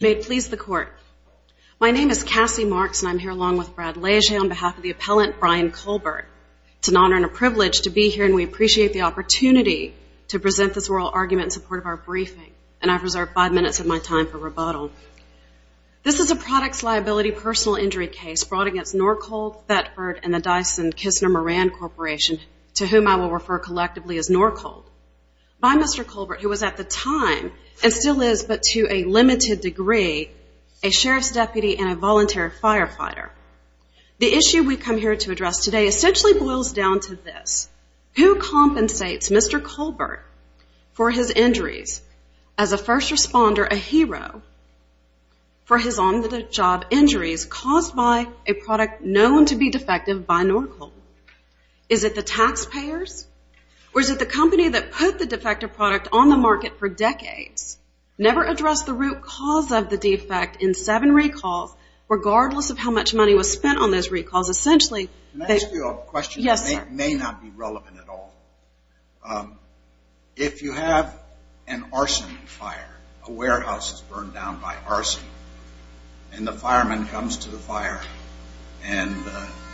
May it please the Court, my name is Cassie Marks and I'm here along with Brad Lege on behalf of the appellant Brian Colbert. It's an honor and a privilege to be here and we appreciate the opportunity to present this oral argument in support of our briefing. And I've reserved five minutes of my time for rebuttal. This is a products liability personal injury case brought against Norcold, Thetford, and the Dyson-Kissner-Moran Corporation, to whom I will refer collectively as Norcold, by Mr. Colbert, who was at the time, and still is, but to a limited degree, a sheriff's deputy and a voluntary firefighter. The issue we come here to address today essentially boils down to this. Who compensates Mr. Colbert for his injuries as a first responder, a hero, for his on-the-job injuries caused by a product known to be defective by Norcold? Is it the taxpayers or is it the company that put the defective product on the market for decades, never addressed the root cause of the defect in seven recalls, regardless of how much money was spent on those recalls, essentially? Can I ask you a question that may not be relevant at all? Yes, sir. If you have an arson fire, a warehouse is burned down by arson, and the fireman comes to the fire and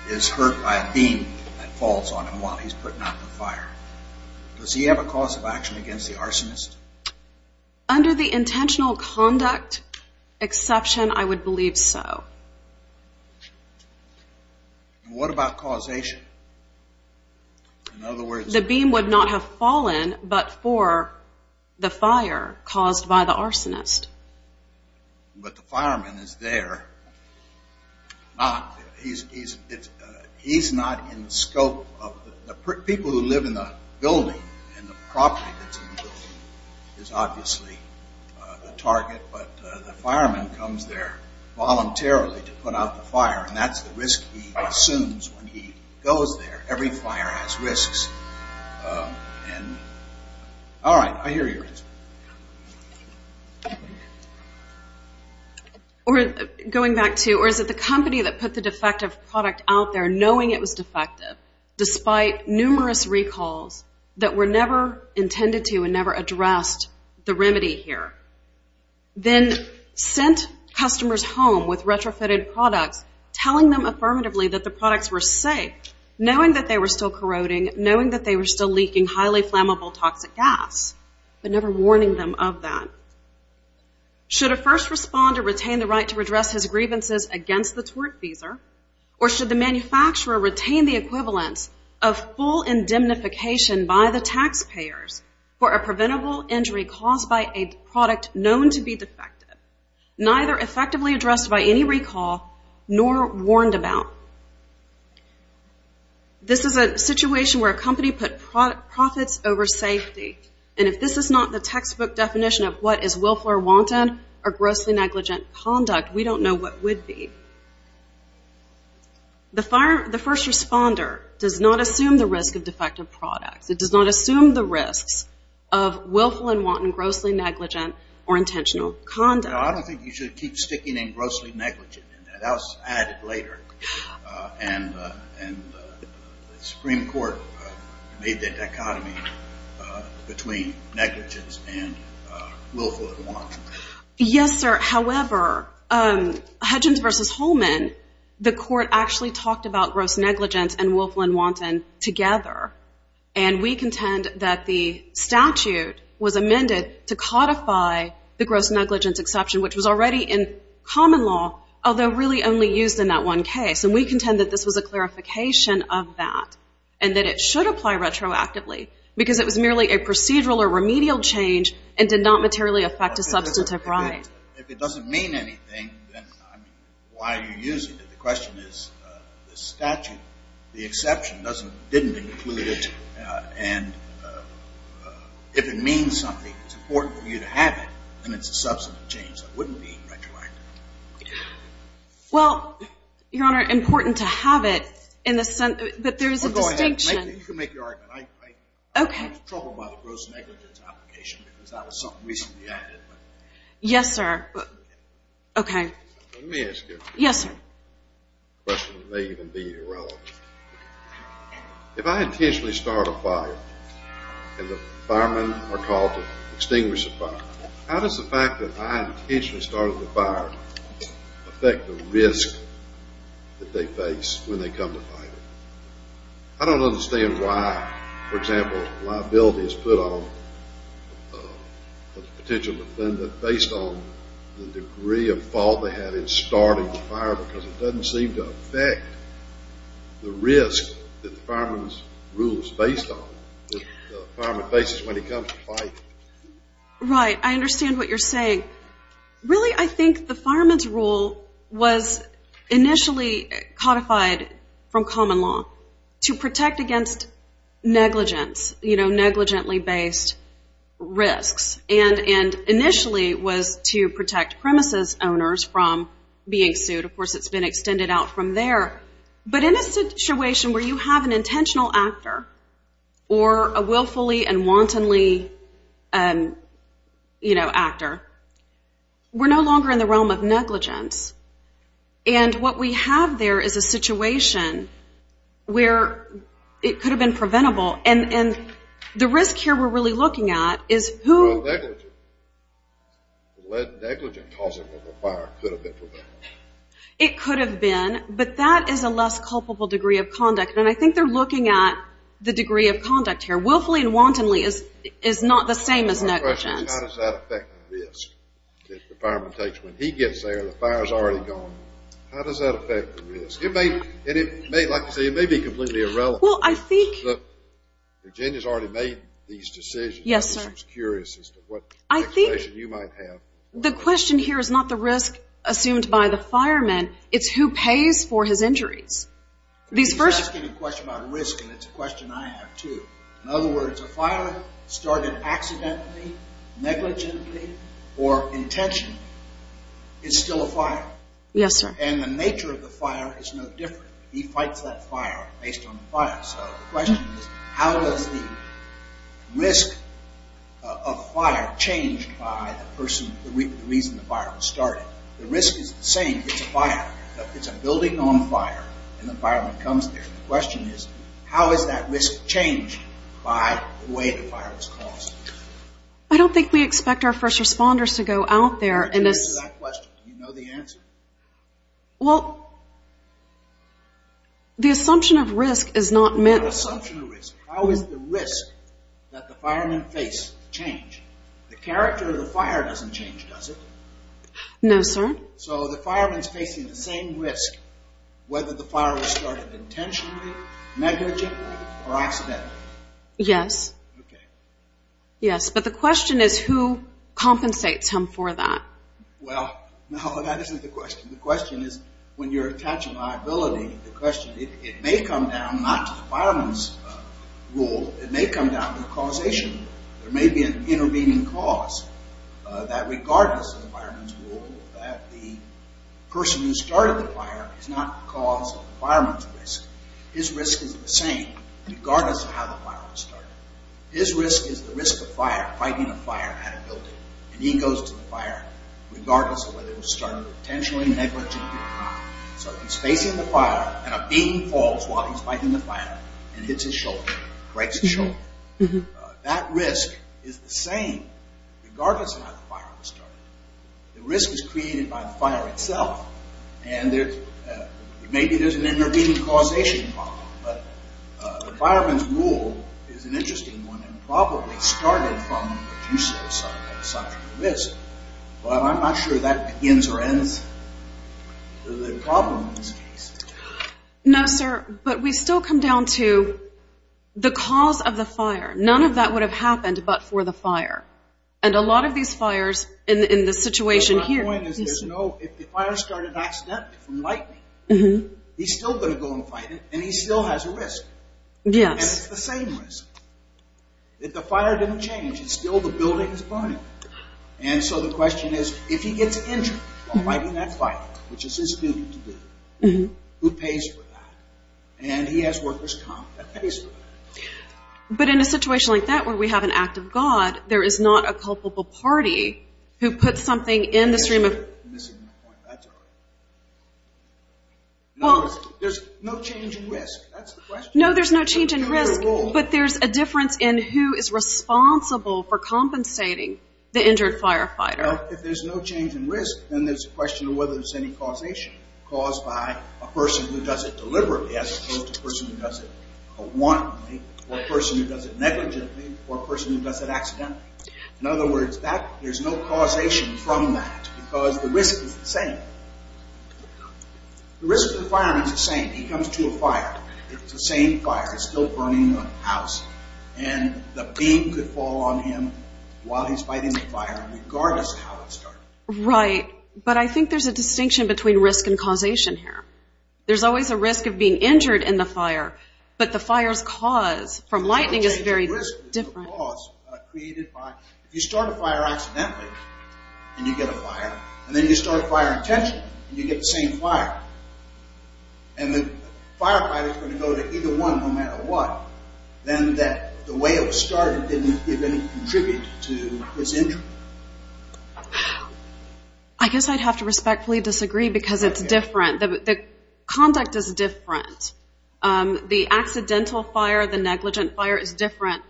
is hurt by a beam that falls on him while he's putting out the fire, does he have a cause of action against the arsonist? Under the intentional conduct exception, I would believe so. And what about causation? In other words... The beam would not have fallen but for the fire caused by the arsonist. But the fireman is there. He's not in the scope of... The people who live in the building and the property that's in the building is obviously the target, but the fireman comes there voluntarily to put out the fire, and that's the risk he assumes when he goes there. Every fire has risks. And... All right, I hear you. Going back to, or is it the company that put the defective product out there knowing it was defective, despite numerous recalls that were never intended to and never addressed the remedy here, then sent customers home with retrofitted products, telling them affirmatively that the products were safe, knowing that they were still corroding, knowing that they were still leaking highly flammable toxic gas, but never warning them of that. Should a first responder retain the right to redress his grievances against the tortfeasor, or should the manufacturer retain the equivalence of full indemnification by the taxpayers for a preventable injury caused by a product known to be defective, neither effectively addressed by any recall nor warned about? This is a situation where a company put profits over safety, and if this is not the textbook definition of what is willful or wanton or grossly negligent conduct, we don't know what would be. The first responder does not assume the risk of defective products. It does not assume the risks of willful and wanton, grossly negligent or intentional conduct. No, I don't think you should keep sticking in grossly negligent. That was added later, and the Supreme Court made the dichotomy between negligence and willful and wanton. Yes, sir. However, Hudgens v. Holman, the court actually talked about gross negligence and willful and wanton together, and we contend that the statute was amended to codify the gross negligence exception, which was already in common law, although really only used in that one case, and we contend that this was a clarification of that and that it should apply retroactively because it was merely a procedural or remedial change and did not materially affect a substantive right. If it doesn't mean anything, then, I mean, why are you using it? The question is the statute, the exception, didn't include it, and if it means something, it's important for you to have it, then it's a substantive change that wouldn't be retroactive. Well, Your Honor, important to have it in the sense that there is a distinction. Well, go ahead. You can make your argument. Okay. I was troubled by the gross negligence application because that was something recently added. Yes, sir. Okay. Let me ask you. Yes, sir. A question that may even be irrelevant. If I intentionally start a fire and the firemen are called to extinguish the fire, how does the fact that I intentionally started the fire affect the risk that they face when they come to fight it? I don't understand why, for example, liability is put on a potential defendant based on the degree of fault they had in starting the fire because it doesn't seem to affect the risk that the fireman's rule is based on that the fireman faces when he comes to fight. Right. I understand what you're saying. Really, I think the fireman's rule was initially codified from common law to protect against negligence, you know, negligently based risks, and initially was to protect premises owners from being sued. Of course, it's been extended out from there. But in a situation where you have an intentional actor or a willfully and wantonly, you know, actor, we're no longer in the realm of negligence. And what we have there is a situation where it could have been preventable. You know, and the risk here we're really looking at is who... Negligent. Negligent causing of a fire could have been preventable. It could have been, but that is a less culpable degree of conduct, and I think they're looking at the degree of conduct here. Willfully and wantonly is not the same as negligence. My question is how does that affect the risk that the fireman takes? When he gets there, the fire's already gone. How does that affect the risk? It may, like you say, it may be completely irrelevant. Well, I think... Virginia's already made these decisions. Yes, sir. I'm just curious as to what expectation you might have. The question here is not the risk assumed by the fireman. It's who pays for his injuries. He's asking a question about risk, and it's a question I have too. In other words, a fire started accidentally, negligently, or intentionally is still a fire. Yes, sir. And the nature of the fire is no different. He fights that fire based on the fire. So the question is how does the risk of fire change by the person, the reason the fire was started? The risk is the same. It's a fire. It's a building on fire, and the fireman comes there. The question is how is that risk changed by the way the fire was caused? I don't think we expect our first responders to go out there and... Answer that question. You know the answer. Well, the assumption of risk is not meant... The assumption of risk. How is the risk that the fireman faced changed? The character of the fire doesn't change, does it? No, sir. So the fireman's facing the same risk whether the fire was started intentionally, negligently, or accidentally. Yes. Okay. Yes, but the question is who compensates him for that? Well, no, that isn't the question. The question is when you're attaching liability, the question, it may come down not to the fireman's role. It may come down to the causation. There may be an intervening cause that regardless of the fireman's role, that the person who started the fire is not the cause of the fireman's risk. His risk is the same regardless of how the fire was started. His risk is the risk of fire, fighting a fire at a building, and he goes to the fire regardless of whether it was started intentionally, negligently, or not. So he's facing the fire, and a beam falls while he's fighting the fire, and hits his shoulder, breaks his shoulder. That risk is the same regardless of how the fire was started. The risk is created by the fire itself, and maybe there's an intervening causation involved, but the fireman's role is an interesting one, and probably started from the use of such a risk. Well, I'm not sure that begins or ends the problem in this case. No, sir, but we still come down to the cause of the fire. None of that would have happened but for the fire, and a lot of these fires in the situation here. My point is if the fire started accidentally from lightning, he's still going to go and fight it, and he still has a risk, and it's the same risk. If the fire didn't change, it's still the building that's burning. And so the question is if he gets injured while fighting that fire, which is his duty to do, who pays for that? And he has workers' comp that pays for that. But in a situation like that where we have an act of God, there is not a culpable party who puts something in the stream of... There's no change in risk. That's the question. No, there's no change in risk, but there's a difference in who is responsible for compensating the injured firefighter. If there's no change in risk, then there's a question of whether there's any causation caused by a person who does it deliberately as opposed to a person who does it wantonly, or a person who does it negligently, or a person who does it accidentally. In other words, there's no causation from that because the risk is the same. The risk of the fireman is the same. He comes to a fire. It's the same fire. It's still burning the house. And the beam could fall on him while he's fighting the fire, regardless of how it started. Right, but I think there's a distinction between risk and causation here. There's always a risk of being injured in the fire, but the fire's cause from lightning is very different. If you start a fire accidentally, and you get a fire, and then you start a fire intentionally, and you get the same fire, and the firefighter's going to go to either one no matter what, then the way it was started didn't even contribute to his injury. I guess I'd have to respectfully disagree because it's different. The conduct is different. The accidental fire, the negligent fire, is different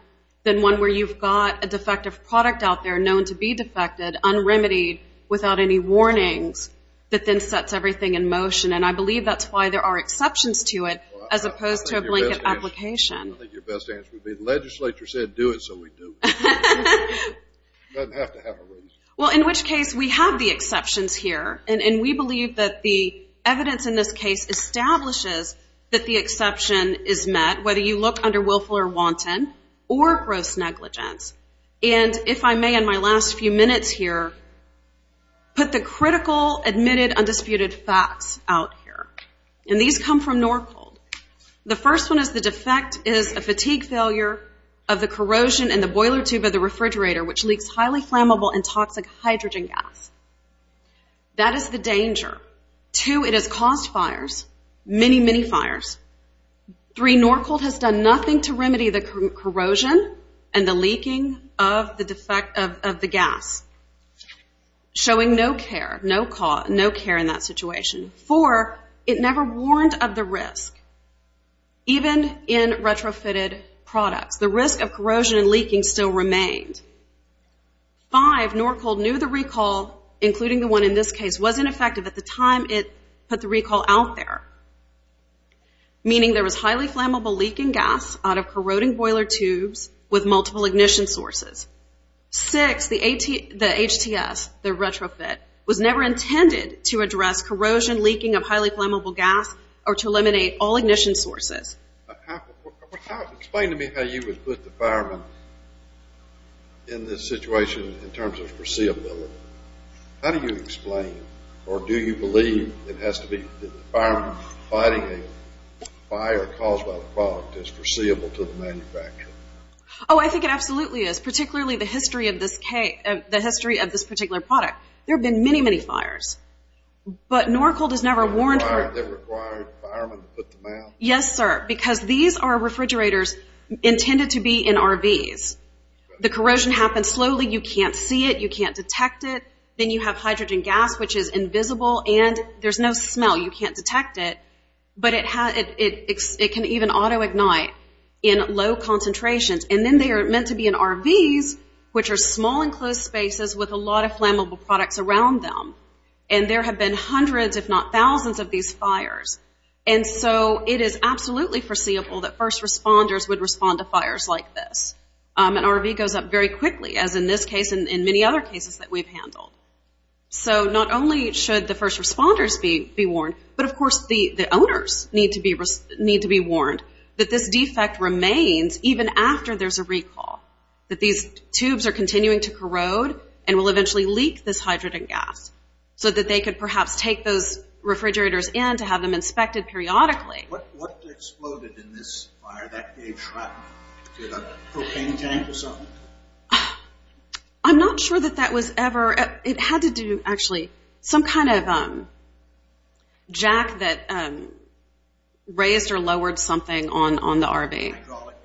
than one where you've got a defective product out there known to be defected, unremitied, without any warnings, that then sets everything in motion. And I believe that's why there are exceptions to it as opposed to a blanket application. I think your best answer would be the legislature said do it, so we do. It doesn't have to have a reason. Well, in which case, we have the exceptions here, and we believe that the evidence in this case establishes that the exception is met, whether you look under willful or wanton or gross negligence. And if I may, in my last few minutes here, put the critical, admitted, undisputed facts out here. And these come from Norcold. The first one is the defect is a fatigue failure of the corrosion in the boiler tube of the refrigerator, which leaks highly flammable and toxic hydrogen gas. That is the danger. Two, it has caused fires, many, many fires. Three, Norcold has done nothing to remedy the corrosion and the leaking of the gas, showing no care, no care in that situation. Four, it never warned of the risk, even in retrofitted products. The risk of corrosion and leaking still remained. Five, Norcold knew the recall, including the one in this case, wasn't effective at the time it put the recall out there, meaning there was highly flammable leaking gas out of corroding boiler tubes with multiple ignition sources. Six, the HTS, the retrofit, was never intended to address corrosion, leaking of highly flammable gas, or to eliminate all ignition sources. Explain to me how you would put the fireman in this situation in terms of foreseeability. How do you explain, or do you believe it has to be that the fireman providing a fire caused by the product is foreseeable to the manufacturer? Oh, I think it absolutely is, particularly the history of this particular product. There have been many, many fires. But Norcold has never warned. They never required the fireman to put them out? Yes, sir, because these are refrigerators intended to be in RVs. The corrosion happens slowly. You can't see it. You can't detect it. Then you have hydrogen gas, which is invisible, and there's no smell. You can't detect it. But it can even auto-ignite in low concentrations. And then they are meant to be in RVs, which are small, enclosed spaces with a lot of flammable products around them. And there have been hundreds, if not thousands, of these fires. And so it is absolutely foreseeable that first responders would respond to fires like this. An RV goes up very quickly, as in this case and many other cases that we've handled. So not only should the first responders be warned, but of course the owners need to be warned that this defect remains even after there's a recall, that these tubes are continuing to corrode and will eventually leak this hydrogen gas so that they could perhaps take those refrigerators in to have them inspected periodically. What exploded in this fire? That gave shrapnel to the propane tank or something? I'm not sure that that was ever. It had to do, actually, some kind of jack that raised or lowered something on the RV. Hydraulic?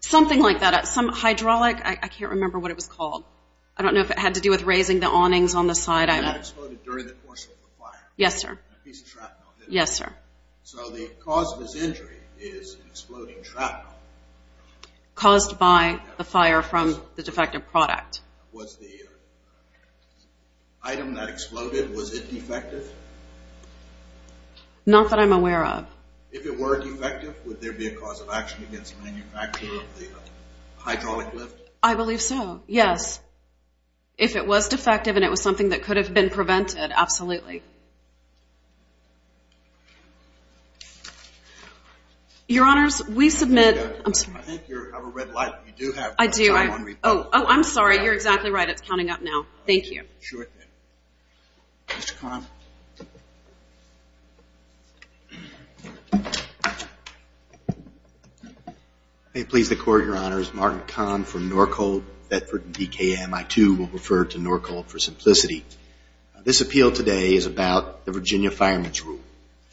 Something like that. Hydraulic, I can't remember what it was called. I don't know if it had to do with raising the awnings on the side. And that exploded during the course of the fire? Yes, sir. A piece of shrapnel did it? Yes, sir. So the cause of this injury is an exploding shrapnel. Caused by the fire from the defective product. Was the item that exploded, was it defective? Not that I'm aware of. If it were defective, would there be a cause of action against the manufacturer of the hydraulic lift? I believe so, yes. If it was defective and it was something that could have been prevented, absolutely. Your Honors, we submit... I think you have a red light. I do. Oh, I'm sorry. You're exactly right. It's counting up now. Thank you. Mr. Kahn. May it please the Court, Your Honors. Martin Kahn from Norcold, Bedford and DKMI2. We'll refer to Norcold for simplicity. This appeal today is about the Virginia Fireman's Rule.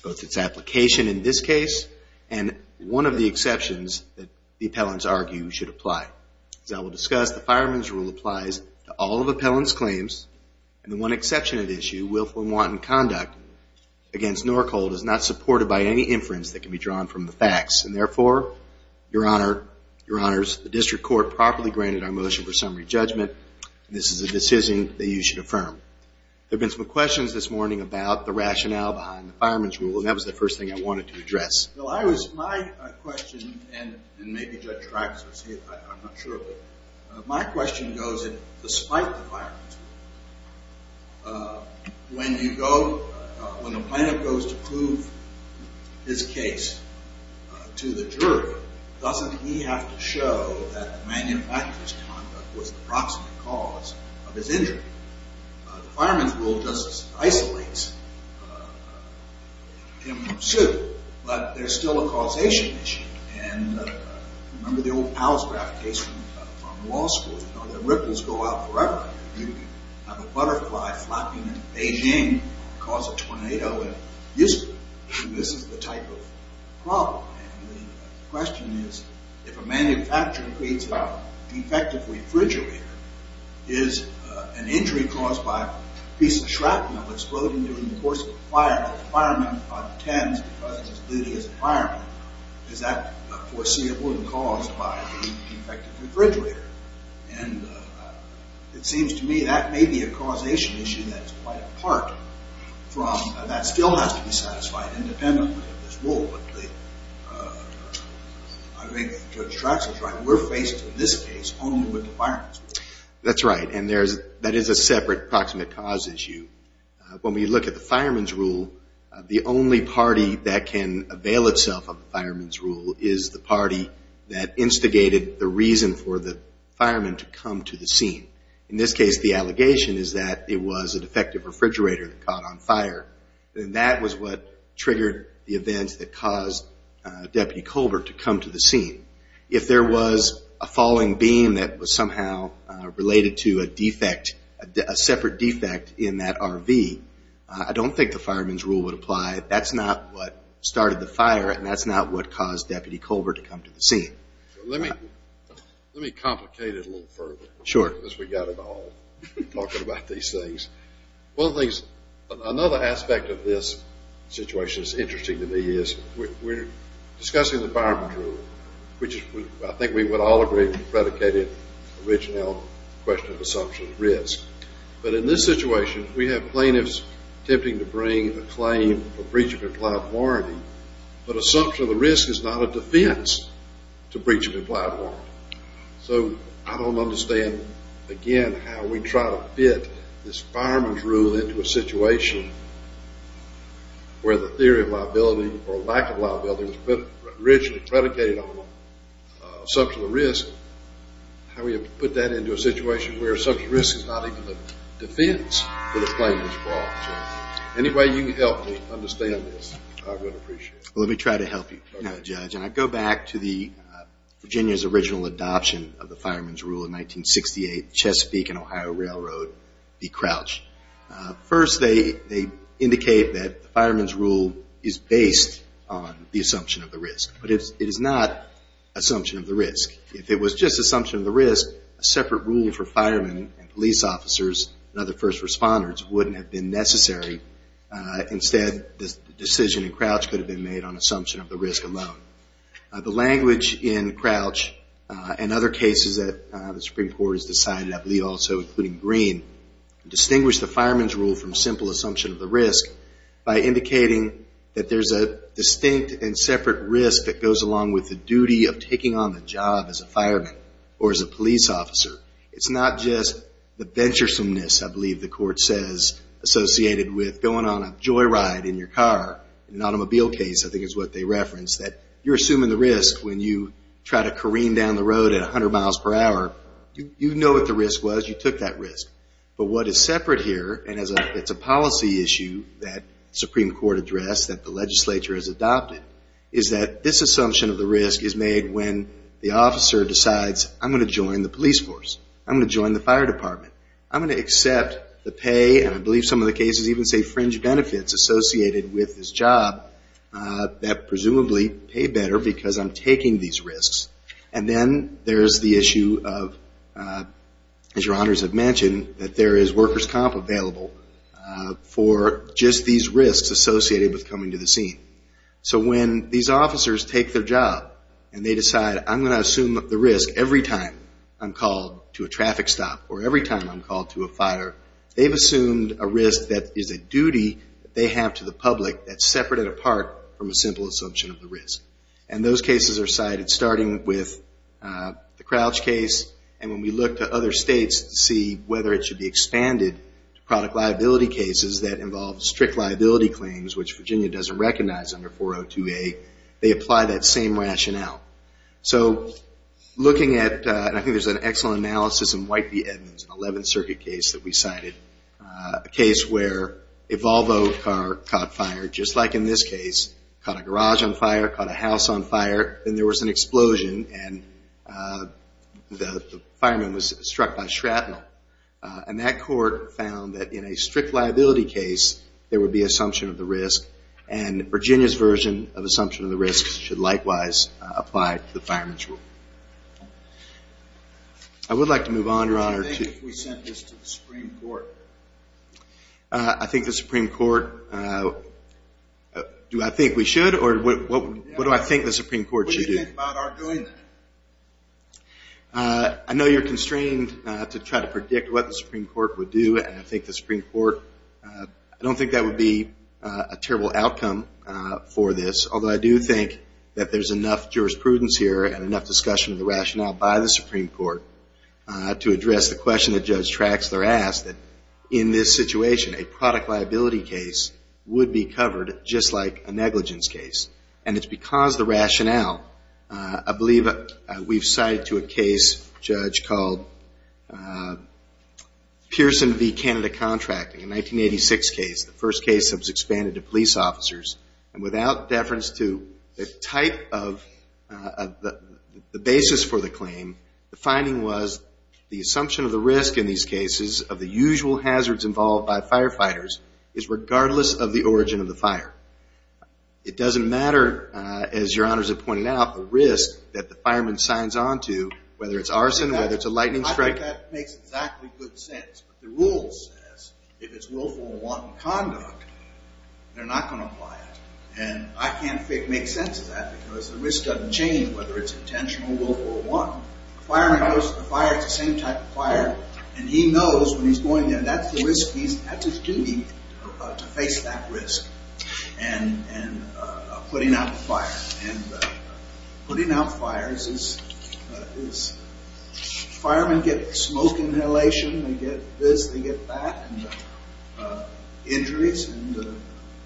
Both its application in this case and one of the exceptions that the appellants argue should apply. As I will discuss, the Fireman's Rule applies to all of the appellant's claims. And the one exception at issue, willful and wanton conduct against Norcold is not supported by any inference that can be drawn from the facts. And therefore, Your Honors, the District Court properly granted our motion for summary judgment. This is a decision that you should affirm. There have been some questions this morning about the rationale behind the Fireman's Rule. And that was the first thing I wanted to address. Well, my question, and maybe Judge Traxler's, I'm not sure, but my question goes that despite the Fireman's Rule, when the plaintiff goes to prove his case to the jury, doesn't he have to show that the manufacturer's conduct was the proximate cause of his injury? The Fireman's Rule just isolates him from suit. But there's still a causation issue. And remember the old Palsgraf case from law school. You know, the ripples go out forever. You have a butterfly flapping in Beijing, cause a tornado in Houston. This is the type of problem. And the question is, if a manufacturer creates a defective refrigerator, is an injury caused by a piece of shrapnel exploding during the course of a fire, a fireman attends because of his duty as a fireman, is that foreseeable and caused by the defective refrigerator? And it seems to me that may be a causation issue that's quite apart from, that still has to be satisfied independently of this rule. But I think Judge Traxler's right. We're faced in this case only with the Fireman's Rule. That's right. And that is a separate proximate cause issue. When we look at the Fireman's Rule, the only party that can avail itself of the Fireman's Rule is the party that instigated the reason for the fireman to come to the scene. In this case, the allegation is that it was a defective refrigerator that caught on fire. And that was what triggered the events that caused Deputy Colbert to come to the scene. If there was a falling beam that was somehow related to a defect, a separate defect in that RV, I don't think the Fireman's Rule would apply. That's not what started the fire, and that's not what caused Deputy Colbert to come to the scene. Let me complicate it a little further. Sure. Because we've got it all, talking about these things. One of the things, another aspect of this situation that's interesting to me is we're discussing the Fireman's Rule, which I think we would all agree predicated originally on the question of assumption of risk. But in this situation, we have plaintiffs attempting to bring a claim for breach of implied warranty, but assumption of the risk is not a defense to breach of implied warranty. So I don't understand, again, how we try to fit this Fireman's Rule into a situation where the theory of liability or lack of liability was originally predicated on assumption of risk. How do we put that into a situation where assumption of risk is not even a defense for the claimant's fault? So any way you can help me understand this, I would appreciate it. Let me try to help you. Okay. So going back to Virginia's original adoption of the Fireman's Rule in 1968, the Chesapeake and Ohio Railroad be crouched. First, they indicate that the Fireman's Rule is based on the assumption of the risk. But it is not assumption of the risk. If it was just assumption of the risk, a separate rule for firemen and police officers and other first responders wouldn't have been necessary. Instead, the decision in Crouch could have been made on assumption of the risk alone. The language in Crouch and other cases that the Supreme Court has decided, I believe also including Green, distinguished the Fireman's Rule from simple assumption of the risk by indicating that there's a distinct and separate risk that goes along with the duty of taking on the job as a fireman or as a police officer. It's not just the venturesomeness, I believe the court says, associated with going on a joyride in your car. In an automobile case, I think it's what they referenced, that you're assuming the risk when you try to careen down the road at 100 miles per hour. You know what the risk was. You took that risk. But what is separate here, and it's a policy issue that the Supreme Court addressed, that the legislature has adopted, is that this assumption of the risk is made when the officer decides, I'm going to join the police force. I'm going to join the fire department. I'm going to accept the pay, and I believe some of the cases even say fringe benefits, associated with this job that presumably pay better because I'm taking these risks. And then there's the issue of, as your honors have mentioned, that there is workers' comp available for just these risks associated with coming to the scene. So when these officers take their job and they decide, I'm going to assume the risk every time I'm called to a traffic stop or every time I'm called to a fire, they've assumed a risk that is a duty that they have to the public that's separate and apart from a simple assumption of the risk. And those cases are cited starting with the Crouch case, and when we look to other states to see whether it should be expanded to product liability cases that involve strict liability claims, which Virginia doesn't recognize under 402A, they apply that same rationale. So looking at, and I think there's an excellent analysis in White v. Edmonds, an 11th Circuit case that we cited, a case where a Volvo car caught fire, just like in this case, caught a garage on fire, caught a house on fire, and there was an explosion and the fireman was struck by shrapnel. And that court found that in a strict liability case, there would be assumption of the risk, and Virginia's version of assumption of the risk should likewise apply to the fireman's rule. I would like to move on, Your Honor. What do you think if we sent this to the Supreme Court? I think the Supreme Court, do I think we should, or what do I think the Supreme Court should do? What do you think about our doing that? I know you're constrained to try to predict what the Supreme Court would do, and I think the Supreme Court, I don't think that would be a terrible outcome for this, although I do think that there's enough jurisprudence here and enough discussion of the rationale by the Supreme Court to address the question that Judge Traxler asked, that in this situation, a product liability case would be covered just like a negligence case. And it's because the rationale, I believe we've cited to a case, Judge, called Pearson v. Canada Contracting, a 1986 case, the first case that was expanded to police officers, and without deference to the type of the basis for the claim, the finding was the assumption of the risk in these cases of the usual hazards involved by firefighters is regardless of the origin of the fire. It doesn't matter, as your honors have pointed out, the risk that the fireman signs on to, whether it's arson, whether it's a lightning strike. I think that makes exactly good sense. The rules says if it's willful and wanton conduct, they're not going to apply it. And I can't make sense of that because the risk doesn't change whether it's intentional or willful or wanton. The fireman goes to the fire, it's the same type of fire, and he knows when he's going in, that's the risk, that's his duty to face that risk. And putting out the fire. And putting out fires is firemen get smoke inhalation, they get this, they get that, and injuries, and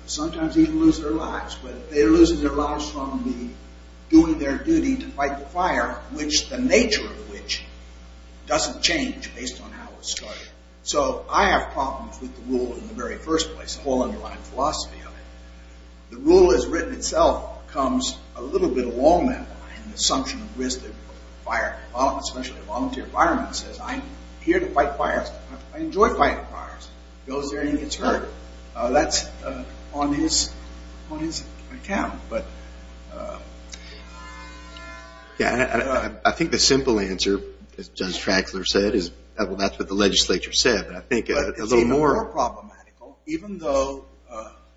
sometimes even lose their lives, but they're losing their lives from doing their duty to fight the fire, which the nature of which doesn't change based on how it started. So I have problems with the rule in the very first place, the whole underlying philosophy of it. The rule as written itself comes a little bit along that line, the assumption of risk of fire, especially a volunteer fireman says, I'm here to fight fires, I enjoy fighting fires. Goes there and he gets hurt. That's on his account. I think the simple answer, as Judge Traxler said, that's what the legislature said. It's even more problematical, even though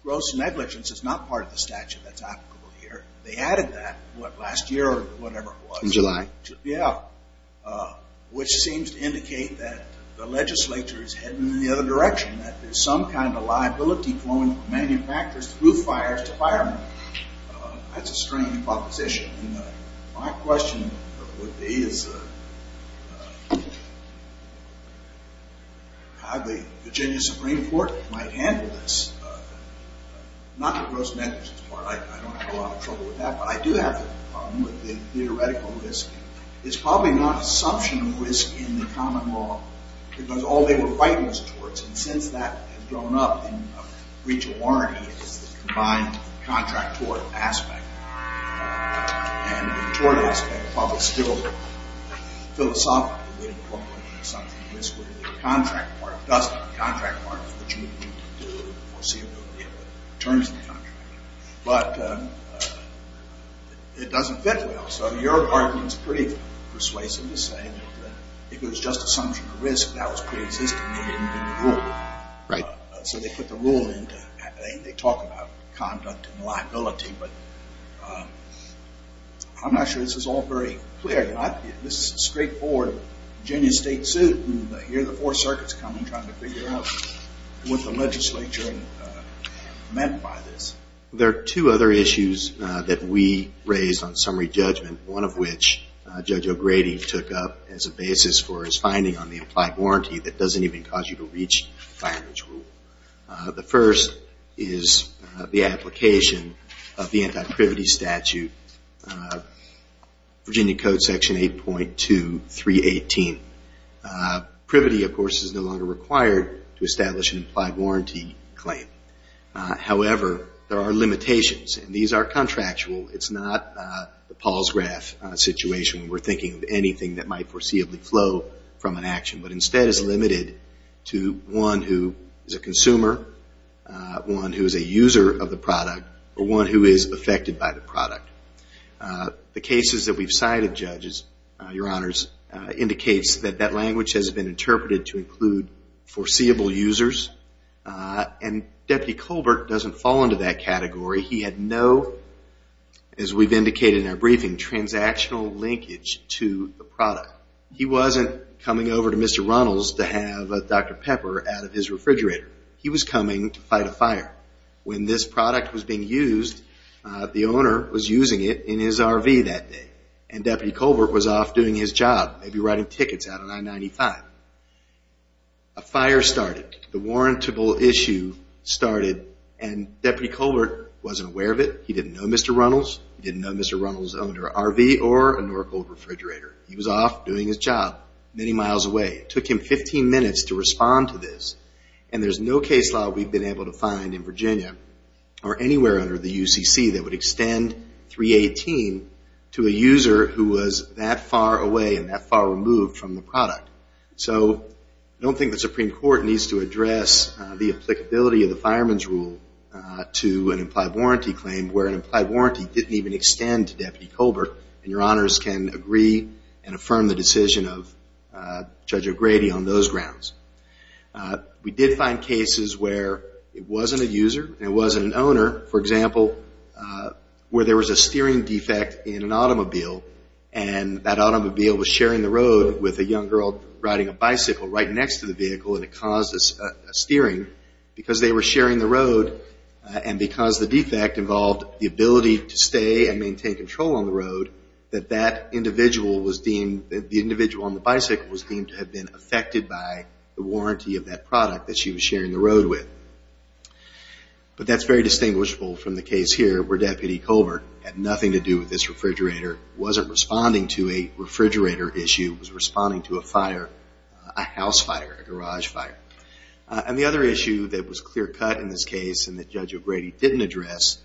gross negligence is not part of the statute that's applicable here, they added that last year or whatever it was. In July. Yeah. Which seems to indicate that the legislature is heading in the other direction, that there's some kind of liability flowing from manufacturers through fires to firemen. That's a strange proposition. My question would be is how the Virginia Supreme Court might handle this. Not the gross negligence part, I don't have a lot of trouble with that, but I do have a problem with the theoretical risk. It's probably not an assumption of risk in the common law, because all they were fighting was torts, and since that has grown up in breach of warranty, it's the combined contract tort aspect and the tort aspect, while they're still philosophically incorporating the assumption of risk with the contract part. It doesn't, the contract part is what you need to do in the foreseeability of the terms of the contract. But it doesn't fit well, so your argument is pretty persuasive to say that if it was just assumption of risk, that was pre-existing and they didn't do the rule. Right. So they put the rule in, and they talk about conduct and liability, but I'm not sure this is all very clear. This is a straightforward Virginia state suit, and here are the four circuits coming trying to figure out what the legislature meant by this. There are two other issues that we raised on summary judgment, one of which Judge O'Grady took up as a basis for his finding on the implied warranty that doesn't even cause you to reach the fireman's rule. The first is the application of the anti-privity statute, Virginia Code Section 8.2318. Privity, of course, is no longer required to establish an implied warranty claim. However, there are limitations, and these are contractual. It's not the Paul's graph situation. We're thinking of anything that might foreseeably flow from an action, but instead it's limited to one who is a consumer, one who is a user of the product, or one who is affected by the product. The cases that we've cited, judges, your honors, indicates that that language has been interpreted to include foreseeable users, and Deputy Colbert doesn't fall into that category. He had no, as we've indicated in our briefing, transactional linkage to the product. He wasn't coming over to Mr. Ronald's to have a Dr. Pepper out of his refrigerator. He was coming to fight a fire. When this product was being used, the owner was using it in his RV that day, and Deputy Colbert was off doing his job, maybe writing tickets out on I-95. A fire started. The warrantable issue started, and Deputy Colbert wasn't aware of it. He didn't know Mr. Ronald's. He didn't know Mr. Ronald's owner, RV, or an Oracle refrigerator. He was off doing his job, many miles away. It took him 15 minutes to respond to this, and there's no case law we've been able to find in Virginia, or anywhere under the UCC that would extend 318 to a user who was that far away and that far removed from the product. So I don't think the Supreme Court needs to address the applicability of the fireman's rule to an implied warranty claim where an implied warranty didn't even extend to Deputy Colbert, and Your Honors can agree and affirm the decision of Judge O'Grady on those grounds. We did find cases where it wasn't a user and it wasn't an owner. For example, where there was a steering defect in an automobile, and that automobile was sharing the road with a young girl riding a bicycle right next to the vehicle, and it caused a steering, because they were sharing the road, and because the defect involved the ability to stay and maintain control on the road, that the individual on the bicycle was deemed to have been affected by the warranty of that product that she was sharing the road with. But that's very distinguishable from the case here where Deputy Colbert had nothing to do with this refrigerator, wasn't responding to a refrigerator issue, was responding to a fire, a house fire, a garage fire. And the other issue that was clear cut in this case and that Judge O'Grady didn't address,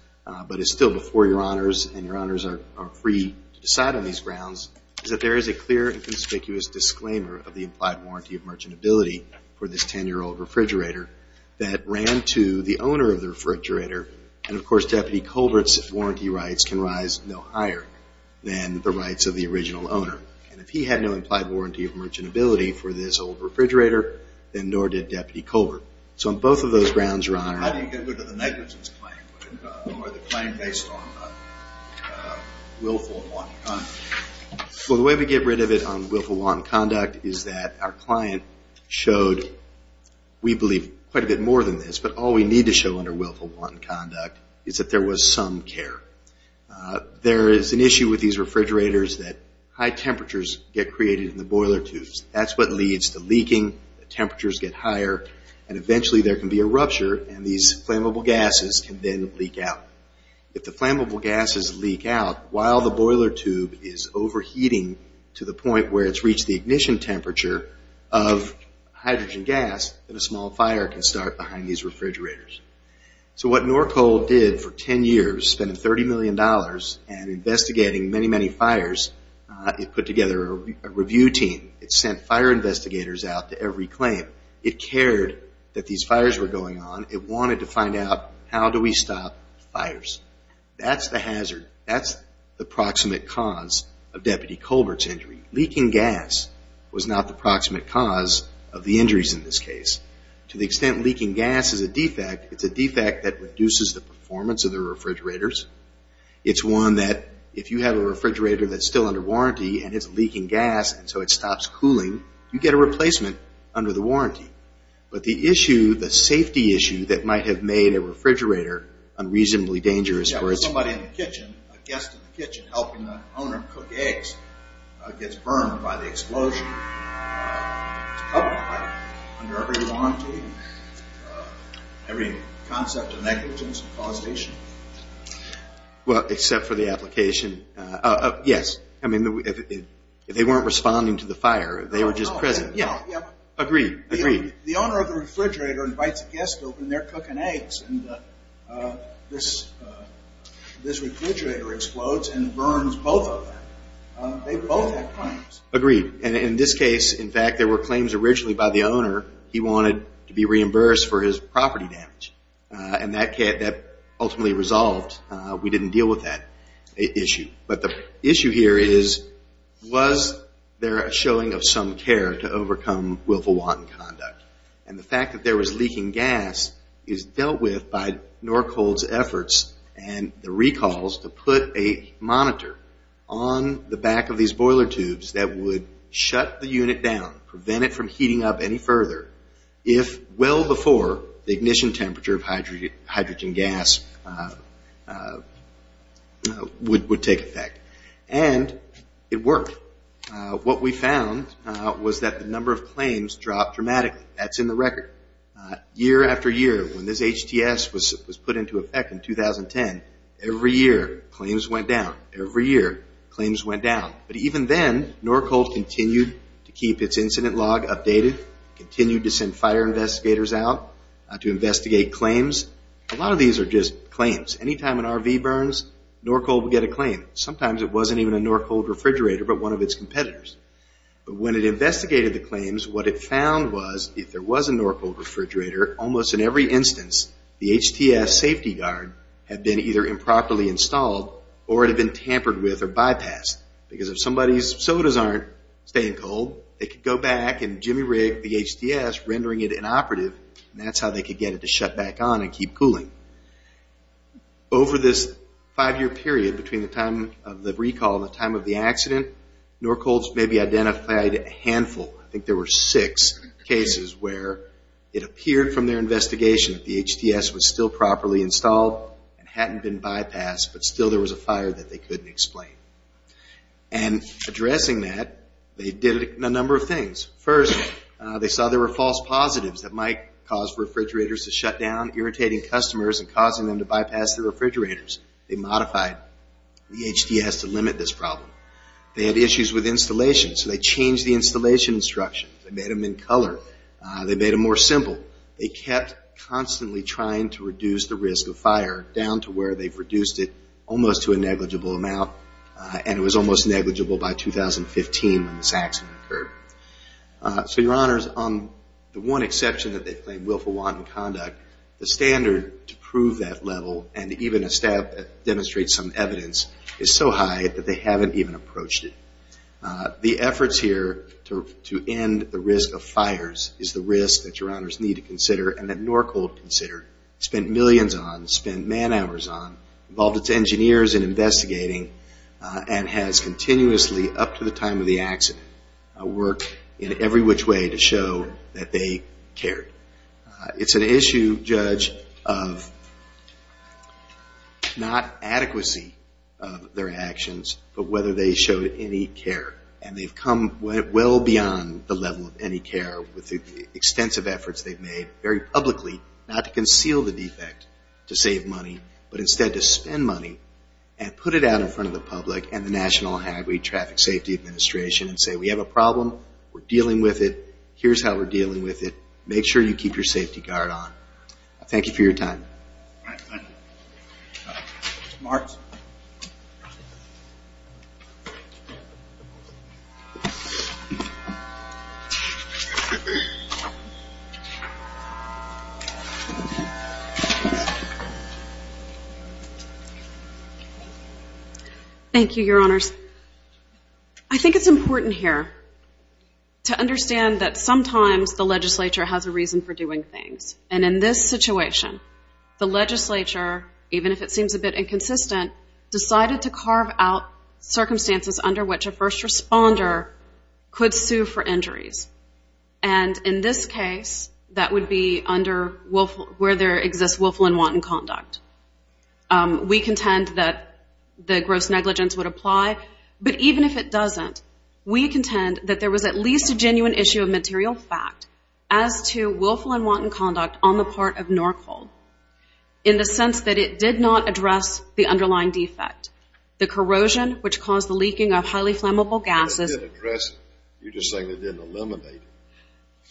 but is still before Your Honors, and Your Honors are free to decide on these grounds, is that there is a clear and conspicuous disclaimer of the implied warranty of merchantability for this 10-year-old refrigerator that ran to the owner of the refrigerator, and of course Deputy Colbert's warranty rights can rise no higher than the rights of the original owner. And if he had no implied warranty of merchantability for this old refrigerator, then nor did Deputy Colbert. So on both of those grounds, Your Honor. How do you get rid of the negligence claim, or the claim based on willful law and conduct? Well, the way we get rid of it on willful law and conduct is that our client showed, we believe, quite a bit more than this. But all we need to show under willful law and conduct is that there was some care. There is an issue with these refrigerators that high temperatures get created in the boiler tubes. That's what leads to leaking, the temperatures get higher, and eventually there can be a rupture, and these flammable gases can then leak out. If the flammable gases leak out while the boiler tube is overheating to the point where it's reached the ignition temperature of hydrogen gas, then a small fire can start behind these refrigerators. So what Norco did for 10 years, spending $30 million and investigating many, many fires, it put together a review team. It sent fire investigators out to every claim. It cared that these fires were going on. It wanted to find out how do we stop fires. That's the hazard. That's the proximate cause of Deputy Colbert's injury. Leaking gas was not the proximate cause of the injuries in this case. To the extent leaking gas is a defect, it's a defect that reduces the performance of the refrigerators. It's one that if you have a refrigerator that's still under warranty and it's leaking gas, but the issue, the safety issue that might have made a refrigerator unreasonably dangerous. Yeah, where somebody in the kitchen, a guest in the kitchen, helping the owner cook eggs gets burned by the explosion. It's public property. Under every warranty, every concept of negligence and causation. Well, except for the application. Yes, I mean, they weren't responding to the fire. They were just present. Yeah. Agreed. The owner of the refrigerator invites a guest over and they're cooking eggs. And this refrigerator explodes and burns both of them. They both have claims. Agreed. And in this case, in fact, there were claims originally by the owner. He wanted to be reimbursed for his property damage. And that ultimately resolved. We didn't deal with that issue. But the issue here is, was there a showing of some care to overcome willful wanton conduct? And the fact that there was leaking gas is dealt with by Norcold's efforts and the recalls to put a monitor on the back of these boiler tubes that would shut the unit down, prevent it from heating up any further, if well before the ignition temperature of hydrogen gas would take effect. And it worked. What we found was that the number of claims dropped dramatically. That's in the record. Year after year, when this HTS was put into effect in 2010, every year claims went down. Every year claims went down. But even then, Norcold continued to keep its incident log updated, continued to send fire investigators out to investigate claims. A lot of these are just claims. Anytime an RV burns, Norcold will get a claim. Sometimes it wasn't even a Norcold refrigerator but one of its competitors. But when it investigated the claims, what it found was if there was a Norcold refrigerator, almost in every instance the HTS safety guard had been either improperly installed or it had been tampered with or bypassed. Because if somebody's sodas aren't staying cold, they could go back and jimmy rig the HTS, rendering it inoperative, and that's how they could get it to shut back on and keep cooling. Over this five-year period between the time of the recall and the time of the accident, Norcold's maybe identified a handful. I think there were six cases where it appeared from their investigation that the HTS was still properly installed and hadn't been bypassed but still there was a fire that they couldn't explain. Addressing that, they did a number of things. First, they saw there were false positives that might cause refrigerators to shut down, irritating customers and causing them to bypass the refrigerators. They modified the HTS to limit this problem. They had issues with installation, so they changed the installation instructions. They made them in color. They made them more simple. They kept constantly trying to reduce the risk of fire, down to where they've reduced it almost to a negligible amount, and it was almost negligible by 2015 when this accident occurred. So, Your Honors, on the one exception that they claim willful wanton conduct, the standard to prove that level and even demonstrate some evidence is so high that they haven't even approached it. The efforts here to end the risk of fires is the risk that Your Honors need to consider and that Norcold considered, spent millions on, spent man hours on, involved its engineers in investigating, and has continuously, up to the time of the accident, worked in every which way to show that they cared. It's an issue, Judge, of not adequacy of their actions but whether they showed any care. And they've come well beyond the level of any care with the extensive efforts they've made, very publicly, not to conceal the defect to save money, but instead to spend money and put it out in front of the public and the National Highway Traffic Safety Administration and say, we have a problem, we're dealing with it, here's how we're dealing with it, make sure you keep your safety guard on. Thank you for your time. Marks. Thank you, Your Honors. I think it's important here to understand that sometimes the legislature has a reason for doing things. And in this situation, the legislature, even if it seems a bit inconsistent, decided to carve out circumstances under which a first responder could sue for injuries. And in this case, that would be under where there exists willful and wanton conduct. We contend that the gross negligence would apply, but even if it doesn't, we contend that there was at least a genuine issue of material fact as to willful and wanton conduct on the part of Norfolk, in the sense that it did not address the underlying defect. The corrosion, which caused the leaking of highly flammable gases. You're just saying they didn't eliminate it.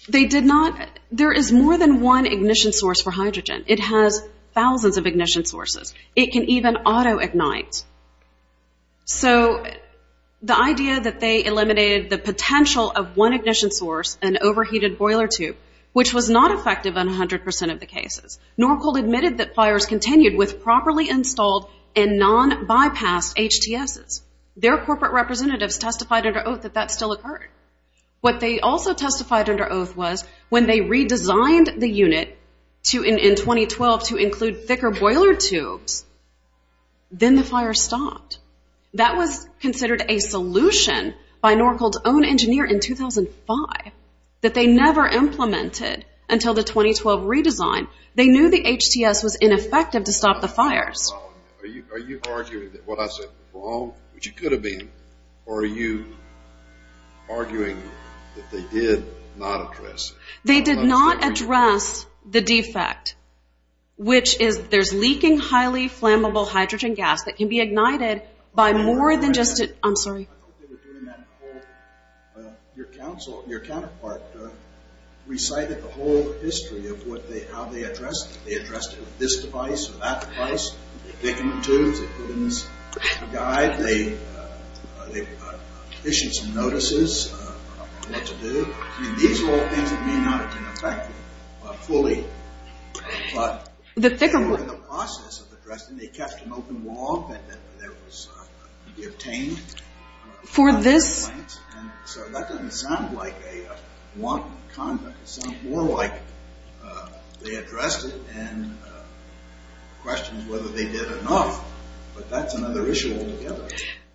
They did not. There is more than one ignition source for hydrogen. It has thousands of ignition sources. It can even auto-ignite. So the idea that they eliminated the potential of one ignition source and overheated boiler tube, which was not effective in 100% of the cases. Norcold admitted that fires continued with properly installed and non-bypassed HTSs. Their corporate representatives testified under oath that that still occurred. What they also testified under oath was when they redesigned the unit in 2012 to include thicker boiler tubes, then the fire stopped. That was considered a solution by Norcold's own engineer in 2005 that they never implemented until the 2012 redesign. They knew the HTS was ineffective to stop the fires. Are you arguing that what I said was wrong, which it could have been, or are you arguing that they did not address it? They did not address the defect, which is there's leaking highly flammable hydrogen gas that can be ignited by more than just a... I'm sorry. Your counterpart recited the whole history of how they addressed it. They addressed it with this device or that device. They put it in this guide. They issued some notices of what to do. These are all things that may not have been effective fully. But they were in the process of addressing it. They kept an open wall that was obtained. So that doesn't sound like a wanton conduct. It sounds more like they addressed it and questioned whether they did or not. But that's another issue altogether.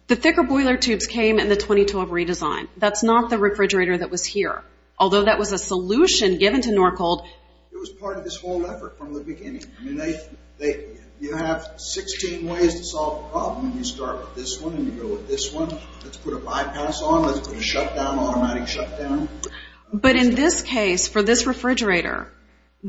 The thicker boiler tubes came in the 2012 redesign. That's not the refrigerator that was here, although that was a solution given to Norcold. It was part of this whole effort from the beginning. You have 16 ways to solve a problem, and you start with this one and you go with this one. Let's put a bypass on. Let's put a shutdown, automatic shutdown. But in this case, for this refrigerator,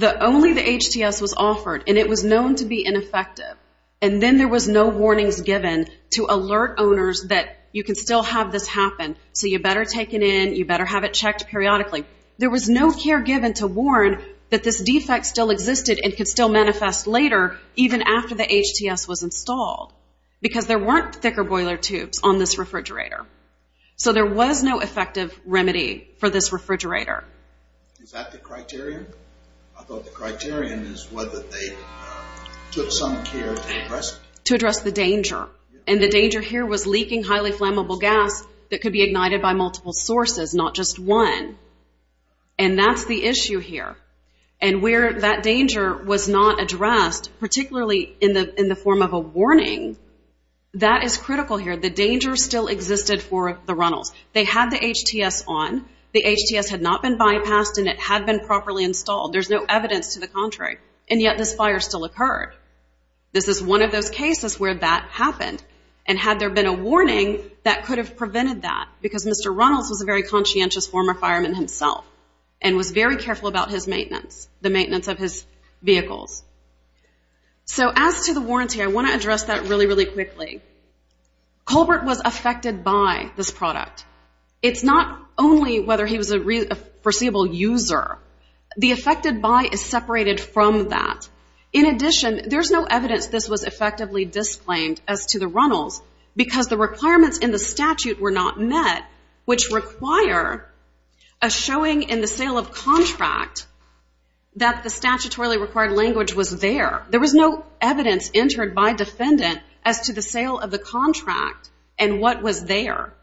only the HTS was offered, and it was known to be ineffective. And then there was no warnings given to alert owners that you can still have this happen, so you better take it in, you better have it checked periodically. There was no care given to warn that this defect still existed and could still manifest later, even after the HTS was installed, because there weren't thicker boiler tubes on this refrigerator. So there was no effective remedy for this refrigerator. Is that the criterion? I thought the criterion is whether they took some care to address it. To address the danger. And the danger here was leaking highly flammable gas that could be ignited by multiple sources, not just one. And that's the issue here. And where that danger was not addressed, particularly in the form of a warning, that is critical here. The danger still existed for the Runnels. They had the HTS on. The HTS had not been bypassed, and it had been properly installed. There's no evidence to the contrary. And yet this fire still occurred. This is one of those cases where that happened. And had there been a warning, that could have prevented that, because Mr. Runnels was a very conscientious former fireman himself and was very careful about his maintenance, the maintenance of his vehicles. So as to the warranty, I want to address that really, really quickly. Colbert was affected by this product. It's not only whether he was a foreseeable user. The affected by is separated from that. In addition, there's no evidence this was effectively disclaimed as to the Runnels, because the requirements in the statute were not met, which require a showing in the sale of contract that the statutorily required language was there. There was no evidence entered by defendant as to the sale of the contract and what was there.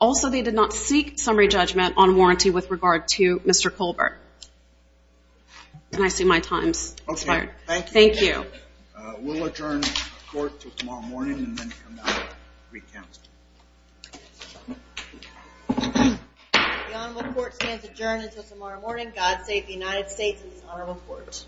Also, they did not seek summary judgment on warranty with regard to Mr. Colbert. And I see my time's expired. Okay, thank you. Thank you. We'll adjourn the court until tomorrow morning and then come back and recount. The honorable court stands adjourned until tomorrow morning. God save the United States and this honorable court.